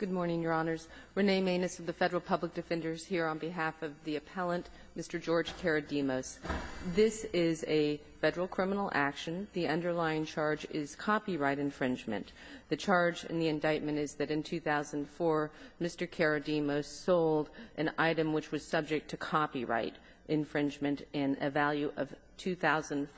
Good morning, Your Honors. Renee Maness of the Federal Public Defenders here on behalf of the appellant, Mr. George Karadimos. This is a Federal criminal action. The underlying charge is copyright infringement. The charge in the indictment is that in 2004, Mr. Karadimos sold an item which was subject to copyright infringement in a value of $2,500.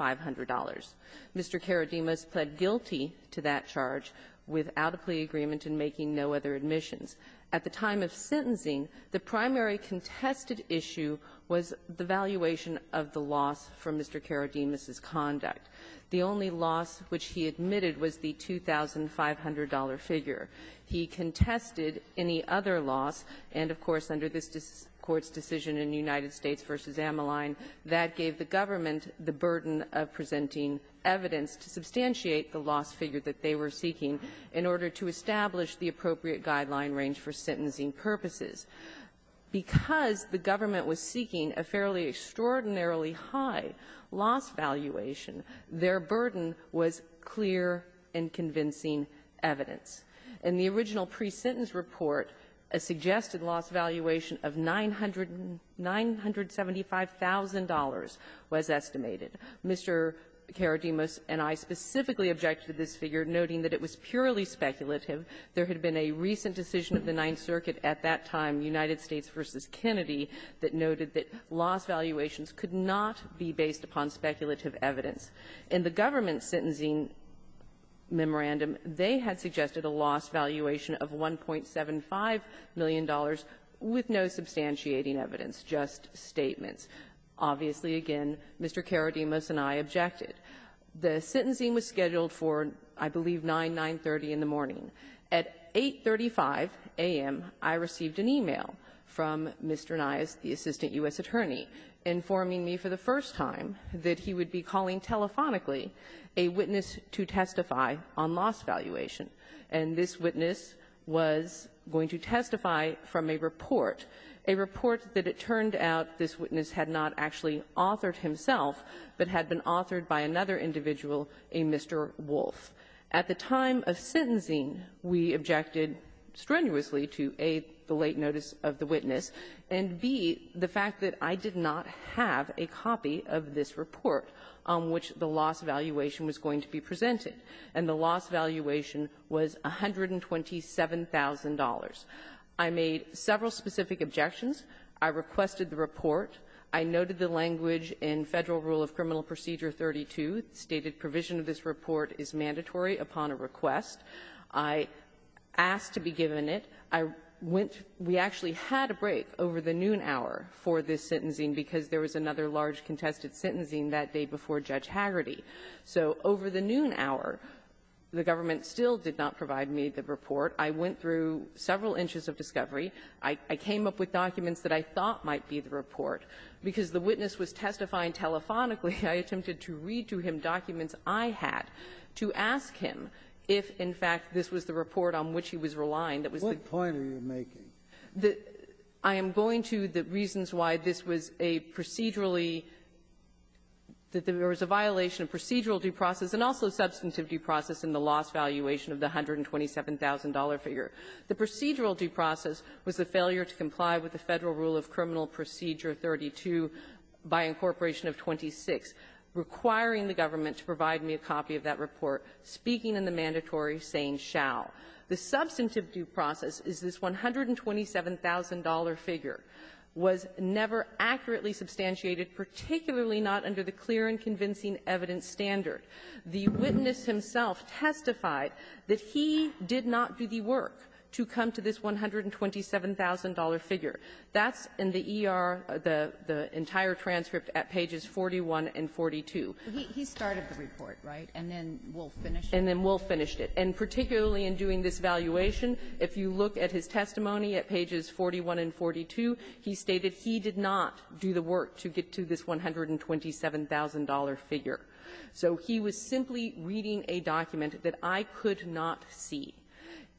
Mr. Karadimos pled guilty to that charge without a plea agreement and making no other admissions. At the time of sentencing, the primary contested issue was the valuation of the loss for Mr. Karadimos's conduct. The only loss which he admitted was the $2,500 figure. He contested any other loss, and, of course, under this Court's decision in United States v. Ameline, that gave the government the burden of presenting evidence to substantiate the loss figure that they were seeking in order to establish the appropriate guideline range for sentencing purposes. Because the government was seeking a fairly extraordinarily high loss valuation, their burden was clear and convincing evidence. In the original pre-sentence report, a suggested loss valuation of $975,000 was the only loss which Mr. Karadimos was estimated. Mr. Karadimos and I specifically objected to this figure, noting that it was purely speculative. There had been a recent decision of the Ninth Circuit at that time, United States v. Kennedy, that noted that loss valuations could not be based upon speculative evidence. In the government's sentencing memorandum, they had suggested a loss valuation of $1.75 million with no substantiating evidence, just statements. Obviously, again, Mr. Karadimos and I objected. The sentencing was scheduled for, I believe, 9, 930 in the morning. At 8.35 a.m., I received an e-mail from Mr. Nias, the assistant U.S. attorney, informing me for the first time that he would be calling telephonically a witness to testify on loss valuation. And this witness was going to testify from a report, a report that it turned out this witness had not actually on the case authored himself, but had been authored by another individual, a Mr. Wolfe. At the time of sentencing, we objected strenuously to, A, the late notice of the witness, and, B, the fact that I did not have a copy of this report on which the loss valuation was going to be presented. And the loss valuation was $127,000. I made several specific objections. I requested the report. I noted the language in Federal Rule of Criminal Procedure 32 stated provision of this report is mandatory upon a request. I asked to be given it. I went to we actually had a break over the noon hour for this sentencing because there was another large contested sentencing that day before Judge Hagerty. So over the noon hour, the government still did not provide me the report. I went through several inches of discovery. I came up with documents that I thought might be the report. Because the witness was testifying telephonically, I attempted to read to him documents I had to ask him if, in fact, this was the report on which he was relying. That was the point he was making. I am going to the reasons why this was a procedurally, that there was a violation of procedural due process and also substantive due process in the loss valuation of the $127,000 figure. The procedural due process was the failure to comply with the Federal Rule of Criminal Procedure 32 by incorporation of 26, requiring the government to provide me a copy of that report, speaking in the mandatory, saying shall. The substantive due process is this $127,000 figure was never accurately substantiated, particularly not under the clear and convincing evidence standard. The witness himself testified that the he did not do the work to come to this $127,000 figure. That's in the ER, the entire transcript at pages 41 and 42. He started the report, right? And then Wolf finished it. And then Wolf finished it. And particularly in doing this valuation, if you look at his testimony at pages 41 and 42, he stated he did not do the work to get to this $127,000 figure. So he was simply reading a document that I could not see.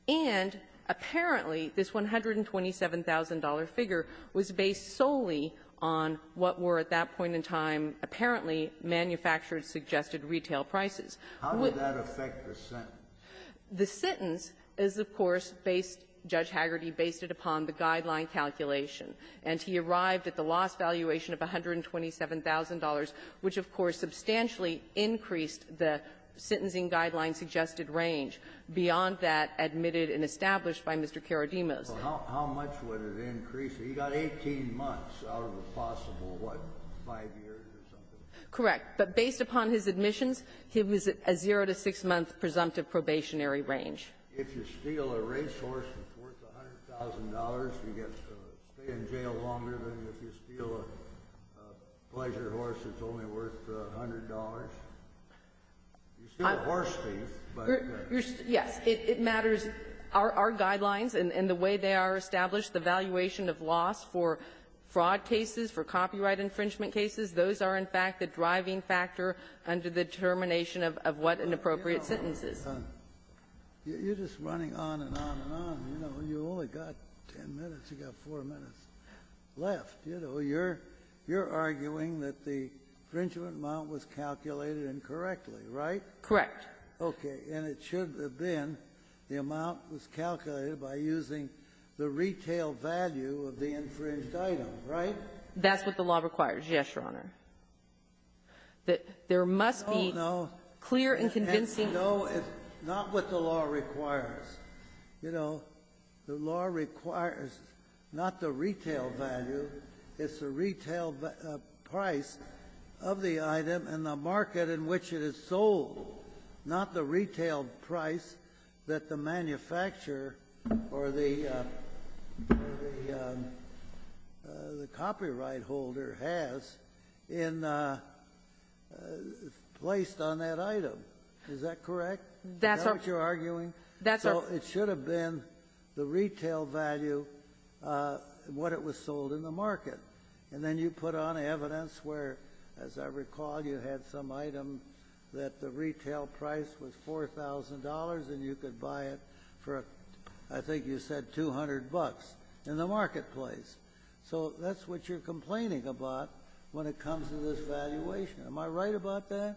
And apparently, this $127,000 figure was based solely on what were at that point in time apparently manufacturer-suggested retail prices. How would that affect the sentence? The sentence is, of course, based --"Judge Hagerty based it upon the guideline calculation." And he arrived at the loss valuation of $127,000, which, of course, substantially increased the sentencing guideline-suggested range. Beyond that, admitted and established by Mr. Karadimos. So how much would it increase? He got 18 months out of the possible, what, five years or something? Correct. But based upon his admissions, he was at a zero-to-six-month presumptive probationary range. If you steal a racehorse that's worth $100,000, you get to stay in jail longer than if you steal a pleasure horse that's only worth $100. You steal a horse thief, but you're still going to jail. Yes. It matters. Our guidelines and the way they are established, the valuation of loss for fraud cases, for copyright infringement cases, those are, in fact, the driving factor under the determination of what an appropriate sentence is. You're just running on and on and on. You know, you've only got ten minutes. You've got four minutes left. You know, you're arguing that the infringement amount was calculated incorrectly, right? Correct. Okay. And it should have been the amount was calculated by using the retail value of the infringed item, right? That's what the law requires, yes, Your Honor. That there must be clear and convincing ---- The law requires not the retail value, it's the retail price of the item and the market in which it is sold, not the retail price that the manufacturer or the copyright holder has placed on that item. Is that correct? That's right. Is that what you're arguing? That's right. Well, it should have been the retail value, what it was sold in the market. And then you put on evidence where, as I recall, you had some item that the retail price was $4,000, and you could buy it for, I think you said, 200 bucks in the marketplace. So that's what you're complaining about when it comes to this valuation. Am I right about that?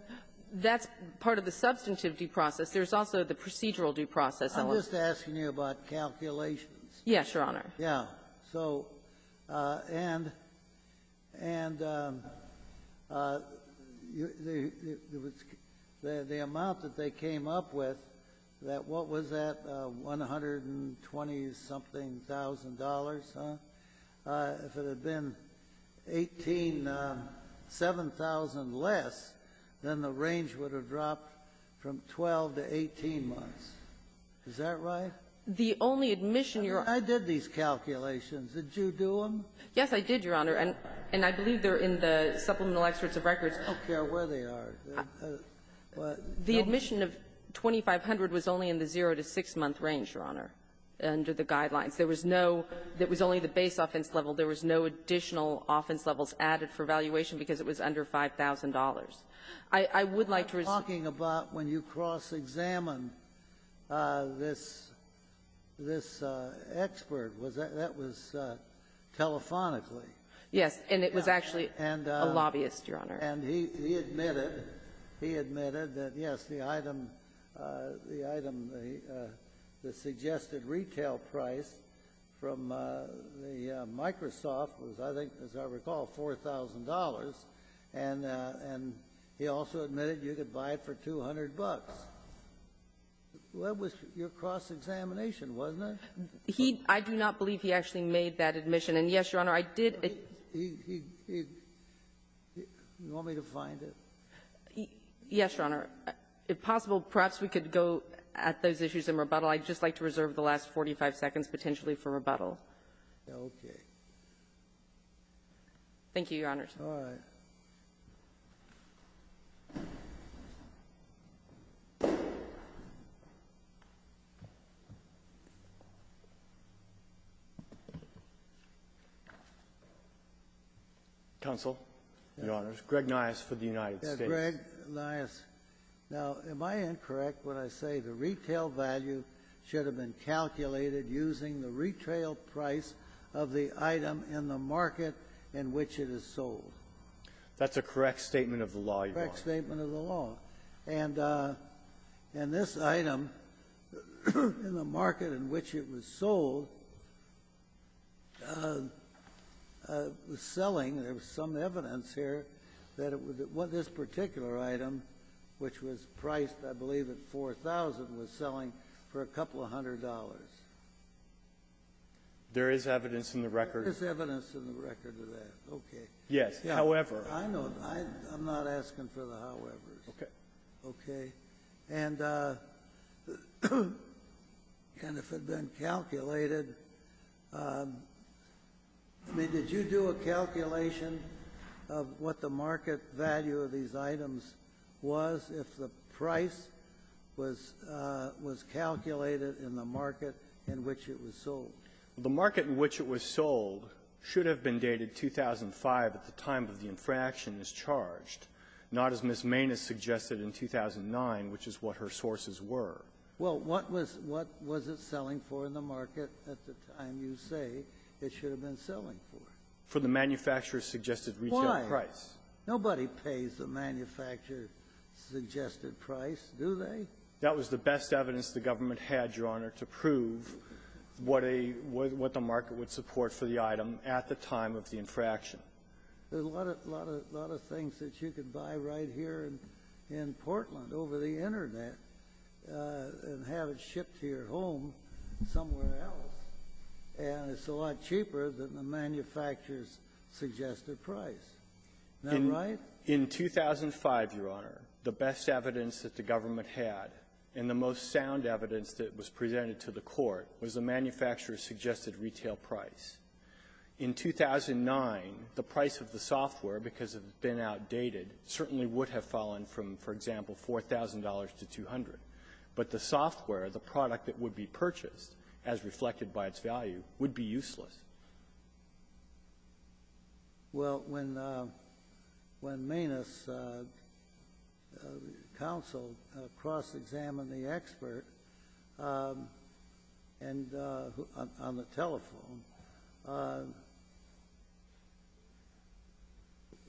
That's part of the substantive due process. There's also the procedural due process element. I'm just asking you about calculations. Yes, Your Honor. Yeah. So and the amount that they came up with, what was that, $120-something thousand dollars, huh? If it had been $18,000, $7,000 less, then the range would have dropped from 12 to 18 months. Is that right? The only admission, Your Honor — I mean, I did these calculations. Did you do them? Yes, I did, Your Honor. And I believe they're in the Supplemental Excerpts of Records. I don't care where they are. The admission of $2,500 was only in the zero-to-six-month range, Your Honor, under the Guidelines. There was no — it was only the base offense level. There was no additional offense levels added for valuation because it was under $5,000. I would like to resume — What you're talking about when you cross-examine this expert, that was telephonically. Yes, and it was actually a lobbyist, Your Honor. And he admitted — he admitted that, yes, the item — the item, the suggested retail price from the Microsoft was, I think, as I recall, $4,000, and he also admitted you could buy it for $200. That was your cross-examination, wasn't it? He — I do not believe he actually made that admission. And, yes, Your Honor, I did — He — he — he — you want me to find it? Yes, Your Honor. If possible, perhaps we could go at those issues in rebuttal. I'd just like to reserve the last 45 seconds potentially for rebuttal. Okay. Thank you, Your Honors. All right. Counsel, Your Honors, Greg Niasse for the United States. Yes. Greg Niasse. Now, am I incorrect when I say the retail value should have been calculated using the retail price of the item in the market in which it is sold? That's a correct statement of the law, Your Honor. Correct statement of the law. And this item in the market in which it was sold was selling — there was some evidence here that it was — this particular item, which was priced, I believe, at $4,000, was There is evidence in the record — There is evidence in the record of that. Okay. Yes. However — I know. I'm not asking for the howevers. Okay. Okay. The market in which it was sold should have been dated 2005 at the time of the infraction as charged, not as Ms. Maness suggested in 2009, which is what her sources were. Well, what was — what was it selling for in the market at the time you say it should have been selling for? For the manufacturer-suggested retail price. Why? Nobody pays the manufacturer-suggested price, do they? That was the best evidence the government had, Your Honor, to prove what a — what the market would support for the item at the time of the infraction. There's a lot of — a lot of things that you could buy right here in Portland over the Internet and have it shipped to your home somewhere else, and it's a lot cheaper than the manufacturer's-suggested price. Isn't that right? In 2005, Your Honor, the best evidence that the government had, and the most sound evidence that was presented to the Court, was the manufacturer-suggested retail price. In 2009, the price of the software, because it had been outdated, certainly would have fallen from, for example, $4,000 to $200. But the software, the product that would be purchased, as reflected by its value, would be useless. Well, when — when Manus counseled, cross-examined the expert and — on the telephone,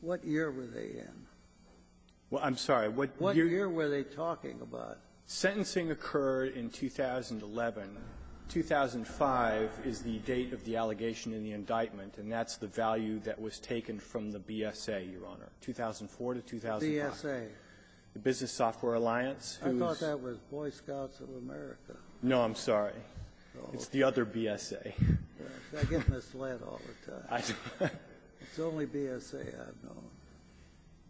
what year were they in? Well, I'm sorry. What year were they talking about? Sentencing occurred in 2011. 2005 is the date of the allegation in the indictment, and that's the value that was taken from the BSA, Your Honor, 2004 to 2005. BSA. The Business Software Alliance, whose — I thought that was Boy Scouts of America. No, I'm sorry. It's the other BSA. I get misled all the time. I know. It's the only BSA I've known.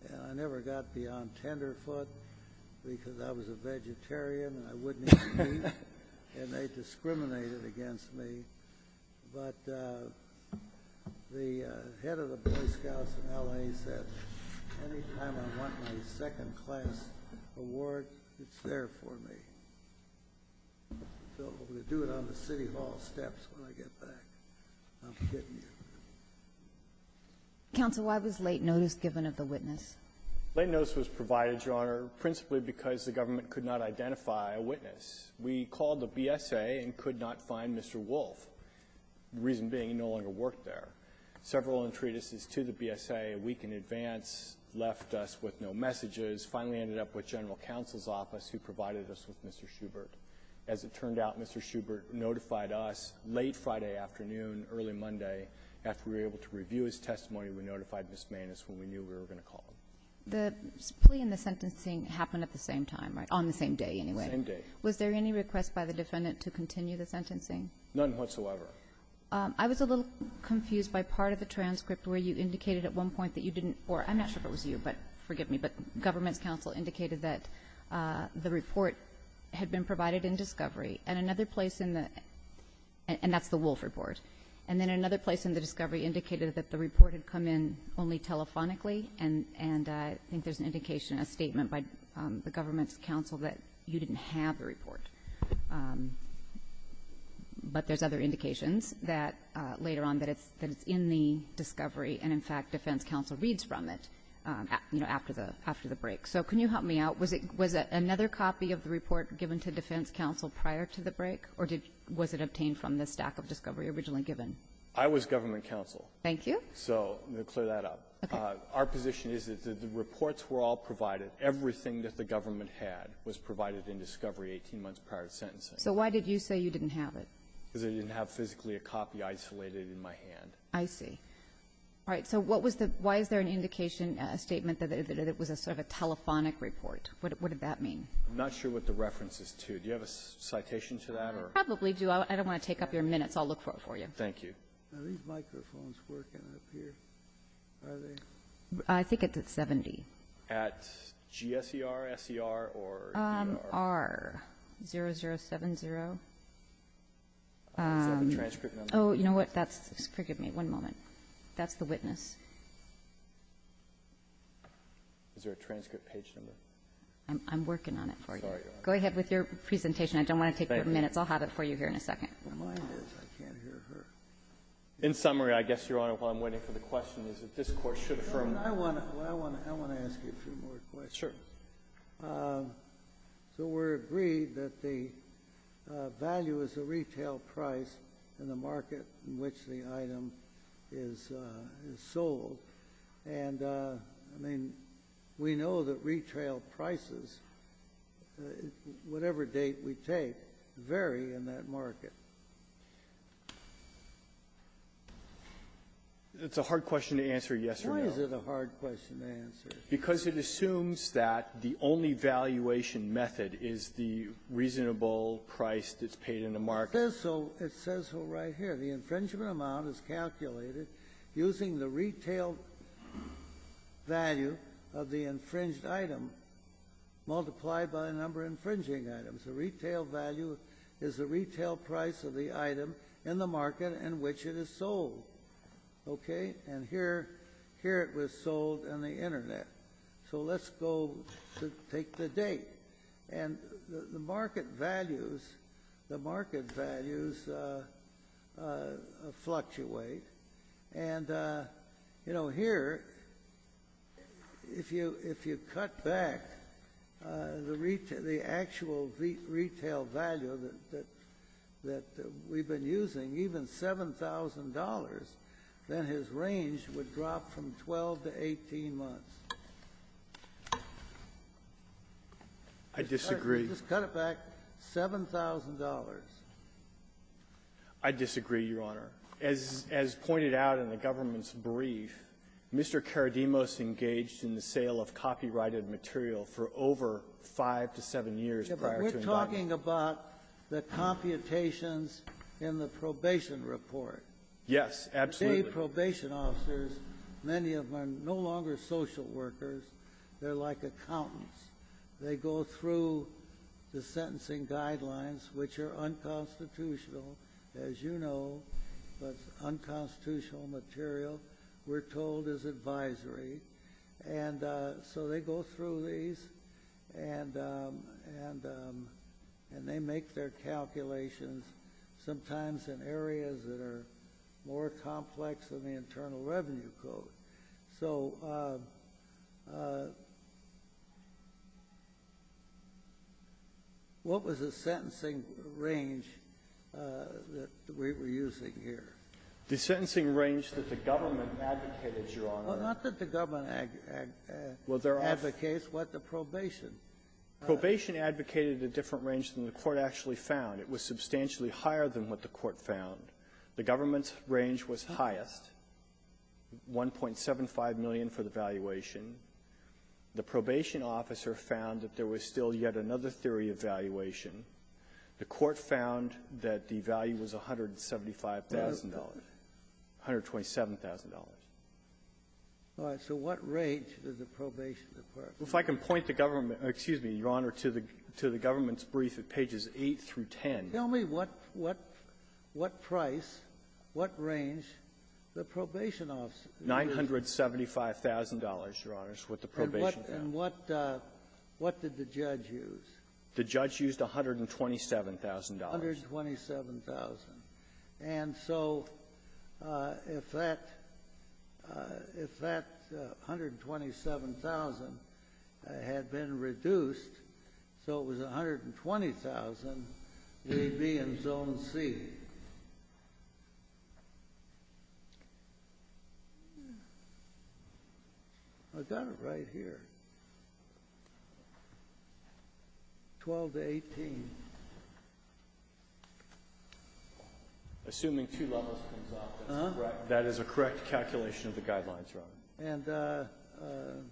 And I never got beyond Tenderfoot, because I was a vegetarian and I wouldn't eat meat, and they discriminated against me. But the head of the Boy Scouts in L.A. said, anytime I want my second-class award, it's there for me. So we'll do it on the City Hall steps when I get back. I'm kidding you. Counsel, why was late notice given of the witness? Late notice was provided, Your Honor, principally because the government could not identify a witness. We called the BSA and could not find Mr. Wolf, the reason being he no longer worked there. Several entreaties to the BSA a week in advance left us with no messages, finally ended up with General Counsel's Office, who provided us with Mr. Schubert. As it turned out, Mr. Schubert notified us late Friday afternoon, early Monday, after we were able to review his testimony. We notified Ms. Maness when we knew we were going to call him. The plea and the sentencing happened at the same time, right? On the same day, anyway. On the same day. Was there any request by the defendant to continue the sentencing? None whatsoever. I was a little confused by part of the transcript where you indicated at one point that you didn't, or I'm not sure if it was you, but forgive me, but government counsel indicated that the report had been provided in discovery, and another place in the, and that's the Wolf report, and then another place in the discovery indicated that the report had come in only telephonically, and I think there's an indication, a statement by the government's counsel, that you didn't have the report. But there's other indications that later on that it's in the discovery, and, in fact, defense counsel reads from it after the break. So can you help me out? Was another copy of the report given to defense counsel prior to the break, or was it obtained from the stack of discovery originally given? I was government counsel. Thank you. So I'm going to clear that up. Okay. Our position is that the reports were all provided. Everything that the government had was provided in discovery 18 months prior to sentencing. So why did you say you didn't have it? Because I didn't have physically a copy isolated in my hand. I see. All right. So what was the, why is there an indication, a statement that it was a sort of a telephonic report? What did that mean? I'm not sure what the reference is to. Do you have a citation to that? I probably do. I don't want to take up your minutes. I'll look for it for you. Thank you. Are these microphones working up here? Are they? I think it's at 70. At GSER, SER, or? R0070. Is that the transcript number? Oh, you know what? That's, forgive me one moment. That's the witness. Is there a transcript page number? I'm working on it for you. Sorry. Go ahead with your presentation. I don't want to take your minutes. Thank you. I'll have it for you here in a second. I can't hear her. In summary, I guess, Your Honor, while I'm waiting for the question, is that this Court should affirm. Well, I want to ask you a few more questions. Sure. So we're agreed that the value is the retail price in the market in which the item is sold. And, I mean, we know that retail prices, whatever date we take, vary in that market. It's a hard question to answer yes or no. Why is it a hard question to answer? Because it assumes that the only valuation method is the reasonable price that's paid in the market. It says so. It says so right here. The infringement amount is calculated using the retail value of the infringed item multiplied by the number of infringing items. The retail value is the retail price of the item in the market in which it is sold. Okay? And here it was sold on the Internet. So let's go take the date. And the market values fluctuate. And, you know, here, if you cut back the actual retail value that we've been using, even $7,000, then his range would drop from 12 to 18 months. I disagree. Just cut it back $7,000. I disagree, Your Honor. As pointed out in the government's brief, Mr. Karadimos engaged in the sale of copyrighted material for over 5 to 7 years prior to involvement. You're talking about the computations in the probation report. Yes, absolutely. Today, probation officers, many of them are no longer social workers. They're like accountants. They go through the sentencing guidelines, which are unconstitutional, as you know. But unconstitutional material, we're told, is advisory. And so they go through these, and they make their calculations, sometimes in areas that are more complex than the Internal Revenue Code. So what was the sentencing range that we were using here? The sentencing range that the government advocated, Your Honor. Well, not that the government advocates, but the probation. Probation advocated a different range than the Court actually found. It was substantially higher than what the Court found. The government's range was highest, 1.75 million for the valuation. The probation officer found that there was still yet another theory of valuation. The Court found that the value was $175,000, $127,000. All right. So what range did the probation department find? Well, if I can point the government to the government's brief at pages 8 through 10. Tell me what price, what range the probation officer found. $975,000, Your Honors, what the probation found. And what did the judge use? The judge used $127,000. $127,000. And so if that $127,000 had been reduced so it was $120,000, we'd be in Zone C. I've got it right here. $12,000 to $18,000. Assuming two levels comes up, that is a correct calculation of the guidelines, Your Honor. And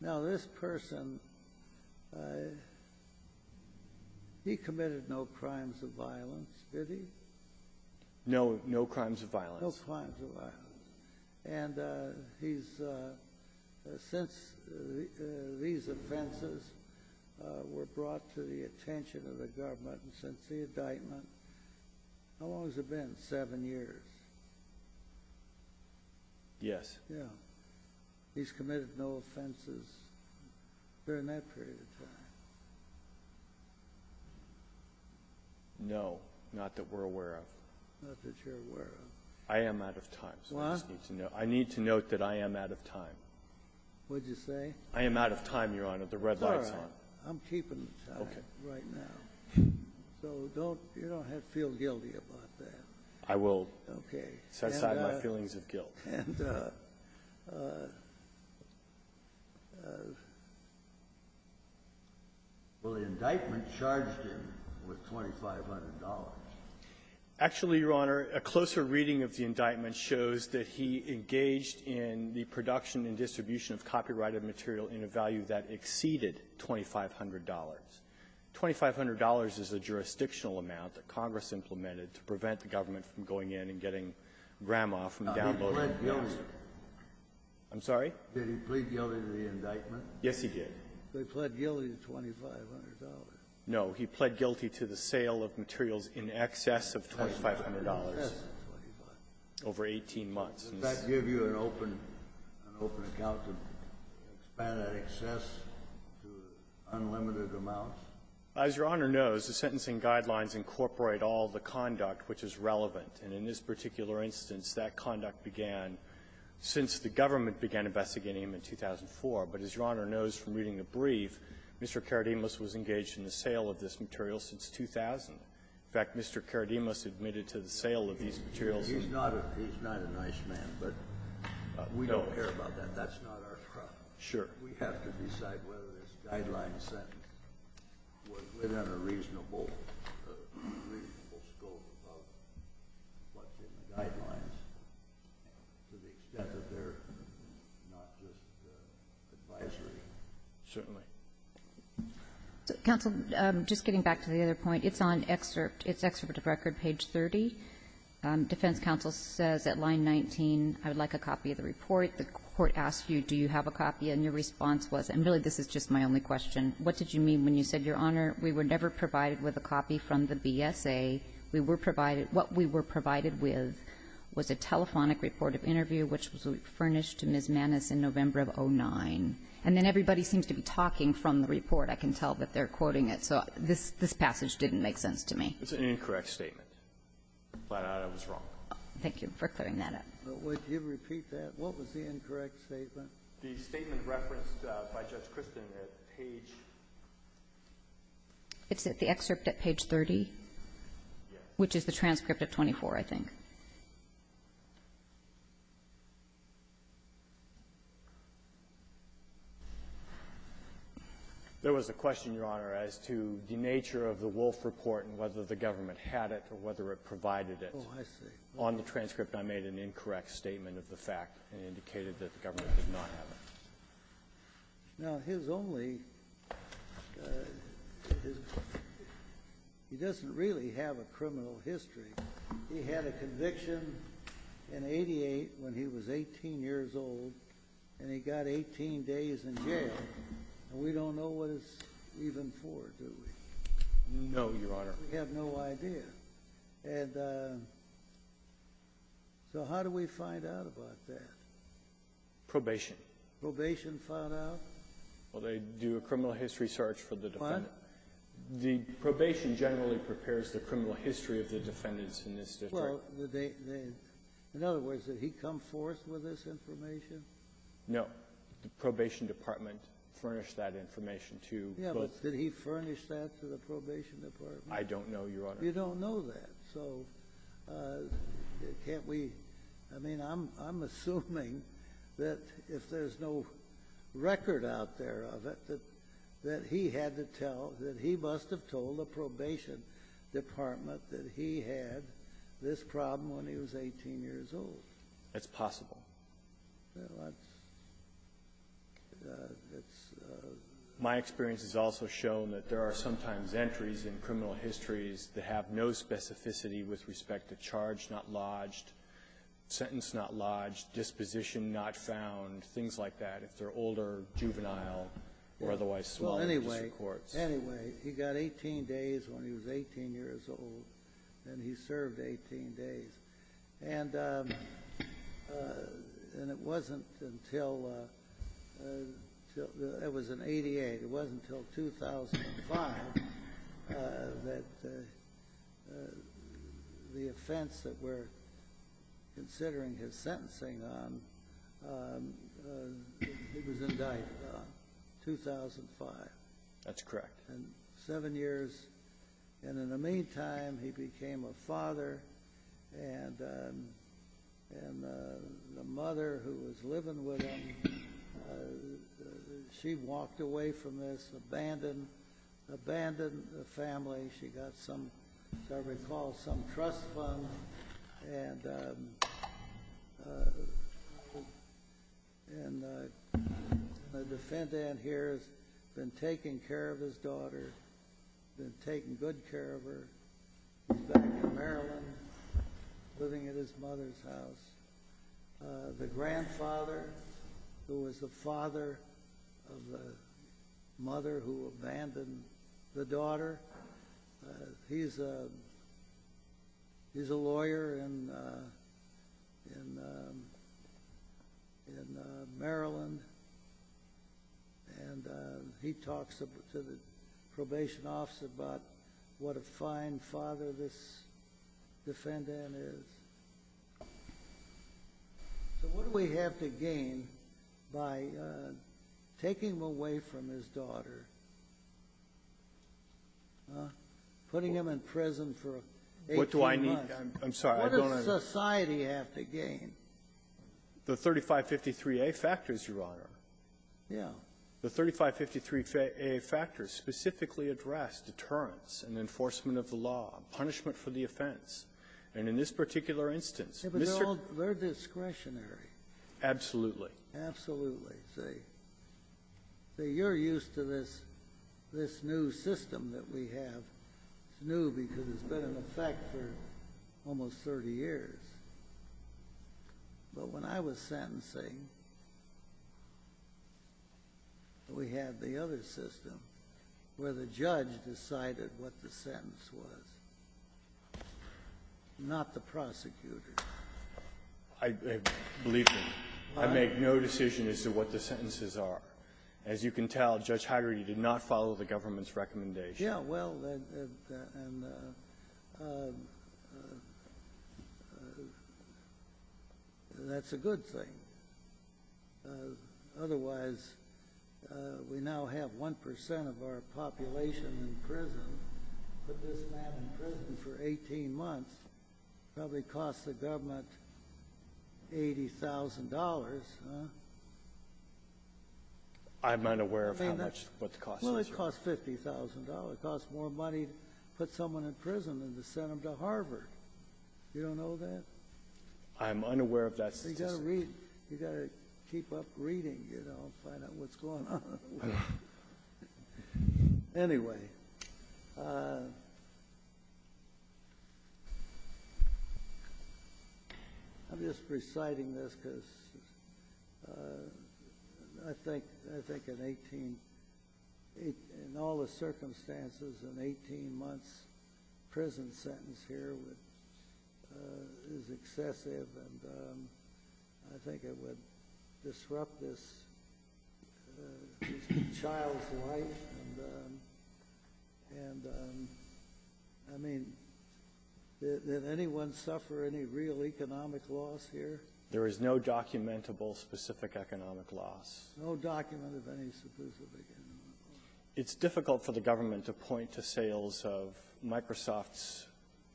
now this person, he committed no crimes of violence, did he? No, no crimes of violence. No crimes of violence. And he's, since these offenses were brought to the attention of the government and since the indictment, how long has it been? Seven years? Yes. Yeah. He's committed no offenses during that period of time? No, not that we're aware of. Not that you're aware of. I am out of time, so I just need to know. I need to note that I am out of time. What did you say? I am out of time, Your Honor. The red light's on. It's all right. I'm keeping the time right now. Okay. So don't, you don't have to feel guilty about that. I will set aside my feelings of guilt. Okay. And will the indictment charge him with $2,500? Actually, Your Honor, a closer reading of the indictment shows that he engaged in the production and distribution of copyrighted material in a value that exceeded $2,500. $2,500 is a jurisdictional amount that Congress implemented to prevent the government from going in and getting grandma from downloading the news. I'm sorry? Did he plead guilty to the indictment? Yes, he did. So he pled guilty to $2,500. No. He pled guilty to the sale of materials in excess of $2,500. Yes, $2,500. Over 18 months. Did that give you an open account to expand that excess to unlimited amounts? As Your Honor knows, the sentencing guidelines incorporate all the conduct which is relevant. And in this particular instance, that conduct began since the government began investigating him in 2004. But as Your Honor knows from reading the brief, Mr. Karadimus was engaged in the sale of this material since 2000. In fact, Mr. Karadimus admitted to the sale of these materials. He's not a nice man, but we don't care about that. That's not our problem. Sure. We have to decide whether this guideline sentence was within a reasonable scope of what's in the guidelines to the extent that they're not just advisory. Certainly. Counsel, just getting back to the other point. It's on excerpt. It's excerpt of record, page 30. Defense counsel says at line 19, I would like a copy of the report. The court asks you, do you have a copy? And your response was, and really this is just my only question, what did you mean when you said, Your Honor? We were never provided with a copy from the BSA. We were provided what we were provided with was a telephonic report of interview which was refurnished to Ms. Mannis in November of 2009. And then everybody seems to be talking from the report. I can tell that they're quoting it. So this passage didn't make sense to me. It's an incorrect statement. I'm glad I was wrong. Thank you for clearing that up. Would you repeat that? What was the incorrect statement? The statement referenced by Judge Kristen at page 30. It's at the excerpt at page 30? Yes. Which is the transcript at 24, I think. There was a question, Your Honor, as to the nature of the Wolfe report and whether the government had it or whether it provided it. Oh, I see. On the transcript, I made an incorrect statement of the fact and indicated that the government did not have it. Now, he doesn't really have a criminal history. He had a conviction in 1988 when he was 18 years old, and he got 18 days in jail. And we don't know what it's even for, do we? No, Your Honor. We have no idea. And so how do we find out about that? Probation. Probation found out? Well, they do a criminal history search for the defendant. What? The probation generally prepares the criminal history of the defendants in this district. In other words, did he come forth with this information? No. The probation department furnished that information to both— Yeah, but did he furnish that to the probation department? I don't know, Your Honor. You don't know that. So can't we—I mean, I'm assuming that if there's no record out there of it, that he had to tell—that he must have told the probation department that he had this problem when he was 18 years old. That's possible. That's— My experience has also shown that there are sometimes entries in criminal histories that have no specificity with respect to charge not lodged, sentence not lodged, disposition not found, things like that, if they're older, juvenile, or otherwise swollen. Well, anyway, anyway, he got 18 days when he was 18 years old, and he served 18 days. And it wasn't until—it was in 88. It wasn't until 2005 that the offense that we're considering his sentencing on, he was indicted on, 2005. That's correct. And seven years. And in the meantime, he became a father, and the mother who was living with him, she walked away from this, abandoned the family. She got some, as I recall, some trust funds, and the defendant here has been taking care of his daughter, been taking good care of her. He's back in Maryland, living at his mother's house. The grandfather, who was the father of the mother who abandoned the daughter, he's a lawyer in Maryland, and he talks to the probation office about what a fine father this defendant is. So what do we have to gain by taking him away from his daughter, putting him in prison for 18 months? What do I need? I'm sorry. I don't understand. What does society have to gain? The 3553a factors, Your Honor. Yeah. The 3553a factors specifically address deterrence and enforcement of the law, punishment for the offense. And in this particular instance, Mr. — Yeah, but they're discretionary. Absolutely. Absolutely. See, you're used to this new system that we have. It's new because it's been in effect for almost 30 years. But when I was sentencing, we had the other system where the judge decided what the sentence was. Not the prosecutor. Believe me, I make no decision as to what the sentences are. As you can tell, Judge Heider, you did not follow the government's recommendation. Yeah, well, that's a good thing. Otherwise, we now have 1% of our population in prison. Put this man in prison for 18 months. Probably cost the government $80,000, huh? I'm unaware of how much — what the cost is. Well, it costs $50,000. It costs more money to put someone in prison than to send them to Harvard. You don't know that? I'm unaware of that statistic. Well, you've got to keep up reading, you know, to find out what's going on. Anyway, I'm just reciting this because I think in all the circumstances, an 18-month prison sentence here is excessive. And I think it would disrupt this child's life. And, I mean, did anyone suffer any real economic loss here? There is no documentable specific economic loss. No document of any specific economic loss. It's difficult for the government to point to sales of Microsoft's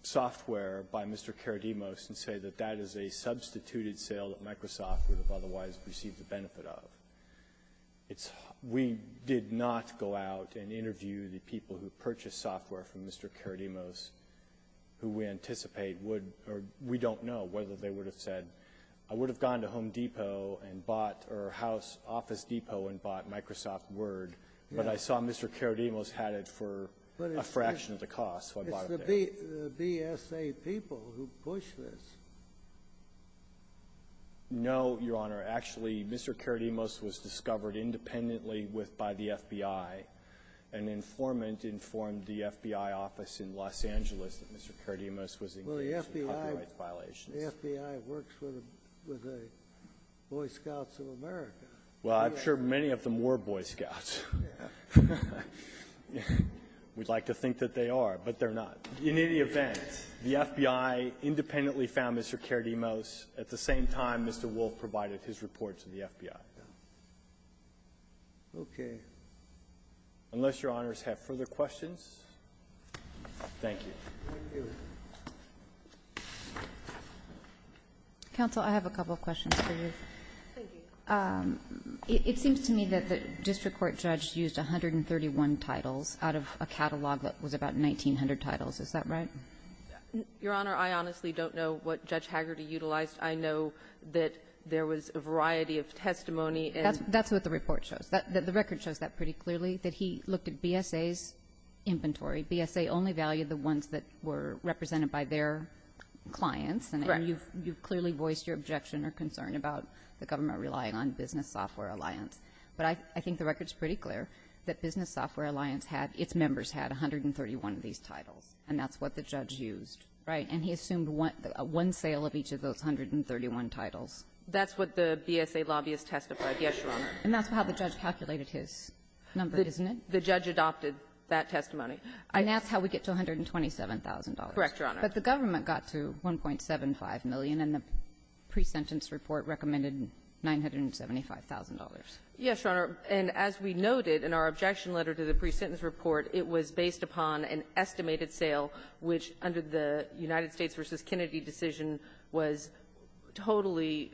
software by Mr. Karadimos and say that that is a substituted sale that Microsoft would have otherwise received the benefit of. We did not go out and interview the people who purchased software from Mr. Karadimos, who we anticipate would — or we don't know whether they would have said, I would have gone to Home Depot and bought — or House Office Depot and bought Microsoft Word, but I saw Mr. Karadimos had it for a fraction of the cost, so I bought it there. It's the BSA people who push this. No, Your Honor. Actually, Mr. Karadimos was discovered independently with — by the FBI. An informant informed the FBI office in Los Angeles that Mr. Karadimos was engaged in copyright violations. The FBI works with the Boy Scouts of America. Well, I'm sure many of them were Boy Scouts. Yeah. We'd like to think that they are, but they're not. In any event, the FBI independently found Mr. Karadimos. At the same time, Mr. Wolf provided his report to the FBI. Okay. Unless Your Honors have further questions, thank you. Thank you. Counsel, I have a couple of questions for you. Thank you. It seems to me that the district court judge used 131 titles out of a catalog that was about 1,900 titles. Is that right? Your Honor, I honestly don't know what Judge Hagerty utilized. I know that there was a variety of testimony and — That's what the report shows. The record shows that pretty clearly, that he looked at BSA's inventory. BSA only valued the ones that were represented by their clients. Right. And you've clearly voiced your objection or concern about the government relying on Business Software Alliance. But I think the record's pretty clear that Business Software Alliance had — its members had 131 of these titles, and that's what the judge used. Right. And he assumed one sale of each of those 131 titles. That's what the BSA lobbyist testified. Yes, Your Honor. And that's how the judge calculated his number, isn't it? The judge adopted that testimony. And that's how we get to $127,000. Correct, Your Honor. But the government got to $1.75 million, and the pre-sentence report recommended $975,000. Yes, Your Honor. And as we noted in our objection letter to the pre-sentence report, it was based upon an estimated sale, which under the United States v. Kennedy decision was totally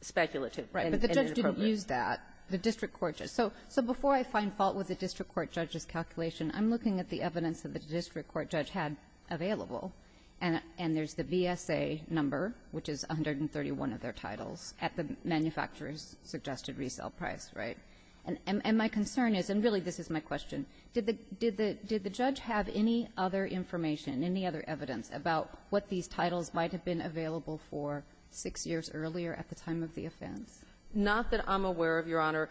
speculative. But the judge didn't use that. The district court judge. So before I find fault with the district court judge's calculation, I'm looking at the evidence that the district court judge had available. And there's the BSA number, which is 131 of their titles, at the manufacturer's suggested resale price, right? And my concern is — and really, this is my question — did the judge have any other information, any other evidence about what these titles might have been available for six years earlier at the time of the offense? Not that I'm aware of, Your Honor.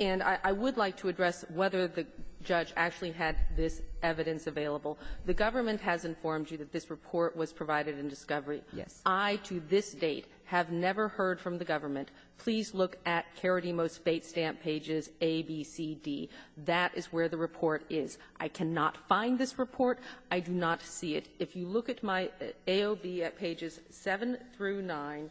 And I would like to address whether the judge actually had this evidence available. The government has informed you that this report was provided in discovery. Yes. I, to this date, have never heard from the government. Please look at Karadimos Fates Stamp pages A, B, C, D. That is where the report is. I cannot find this report. I do not see it. If you look at my AOB at pages 7 through 9,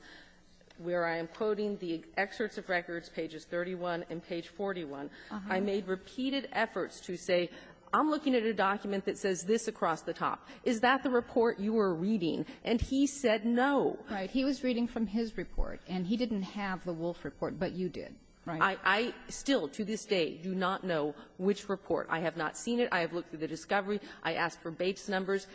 where I am quoting the excerpts of records, pages 31 and page 41, I made repeated efforts to say, I'm looking at a document that says this across the top. Is that the report you were reading? And he said no. Right. He was reading from his report, and he didn't have the Wolfe report, but you did. Right? I still, to this day, do not know which report. I have not seen it. I have looked through the discovery. I asked for Bates numbers.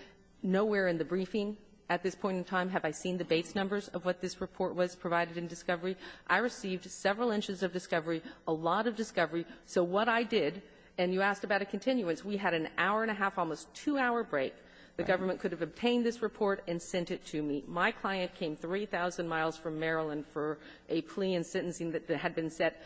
Nowhere in the briefing at this point in time have I seen the Bates numbers of what this report was provided in discovery. I received several inches of discovery, a lot of discovery. So what I did, and you asked about a continuance. We had an hour and a half, almost two-hour break. The government could have obtained this report and sent it to me. My client came 3,000 miles from Maryland for a plea and sentencing that had been set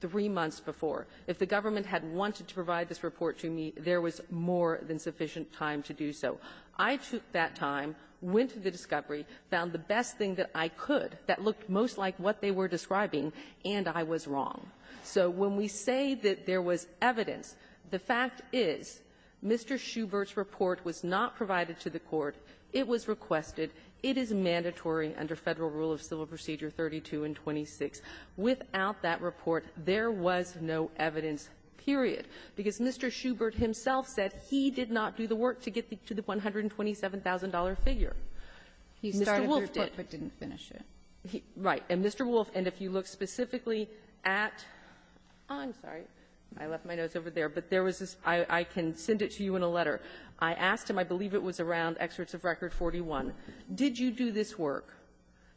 three months before. If the government had wanted to provide this report to me, there was more than sufficient time to do so. I took that time, went to the discovery, found the best thing that I could that looked most like what they were describing, and I was wrong. So when we say that there was evidence, the fact is Mr. Schubert's report was not provided to the Court. It was requested. It is mandatory under Federal Rule of Civil Procedure 32 and 26. Without that report, there was no evidence, period. Because Mr. Schubert himself said he did not do the work to get to the $127,000 figure. Mr. Wolf did. Kagan. He started the report but didn't finish it. Right. And Mr. Wolf, and if you look specifically at — I'm sorry. I left my notes over there. But there was this — I can send it to you in a letter. I asked him, I believe it was around Excerpts of Record 41. Did you do this work?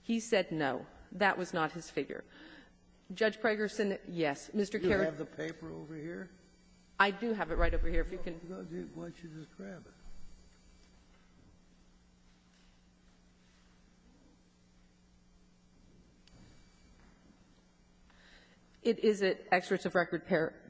He said no. That was not his figure. Judge Pragerson, yes. Mr. Carradine. Do you have the paper over here? I do have it right over here. If you can — Why don't you just grab it? It is at Excerpts of Record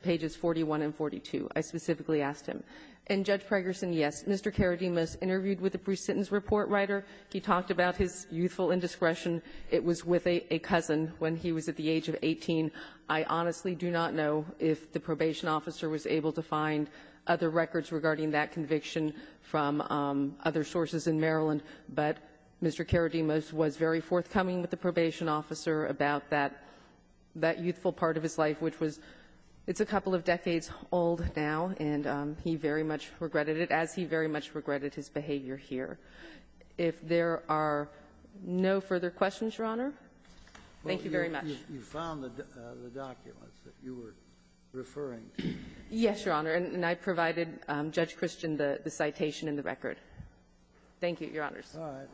pages 41 and 42. I specifically asked him. And, Judge Pragerson, yes, Mr. Carradine was interviewed with the presentence report writer. He talked about his youthful indiscretion. It was with a cousin when he was at the age of 18. I honestly do not know if the probation officer was able to find other records regarding that conviction from other sources in Maryland. But Mr. Carradine was very forthcoming with the probation officer about that — that youthful part of his life, which was — it's a couple of decades old now, and he very much regretted it, as he very much regretted his behavior here. If there are no further questions, Your Honor, thank you very much. You found the documents that you were referring to. Yes, Your Honor. And I provided Judge Christian the citation in the record. Thank you, Your Honors. All right.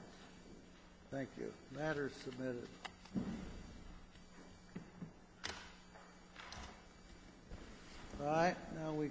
Thank you. All right. Now we can go to the next panel.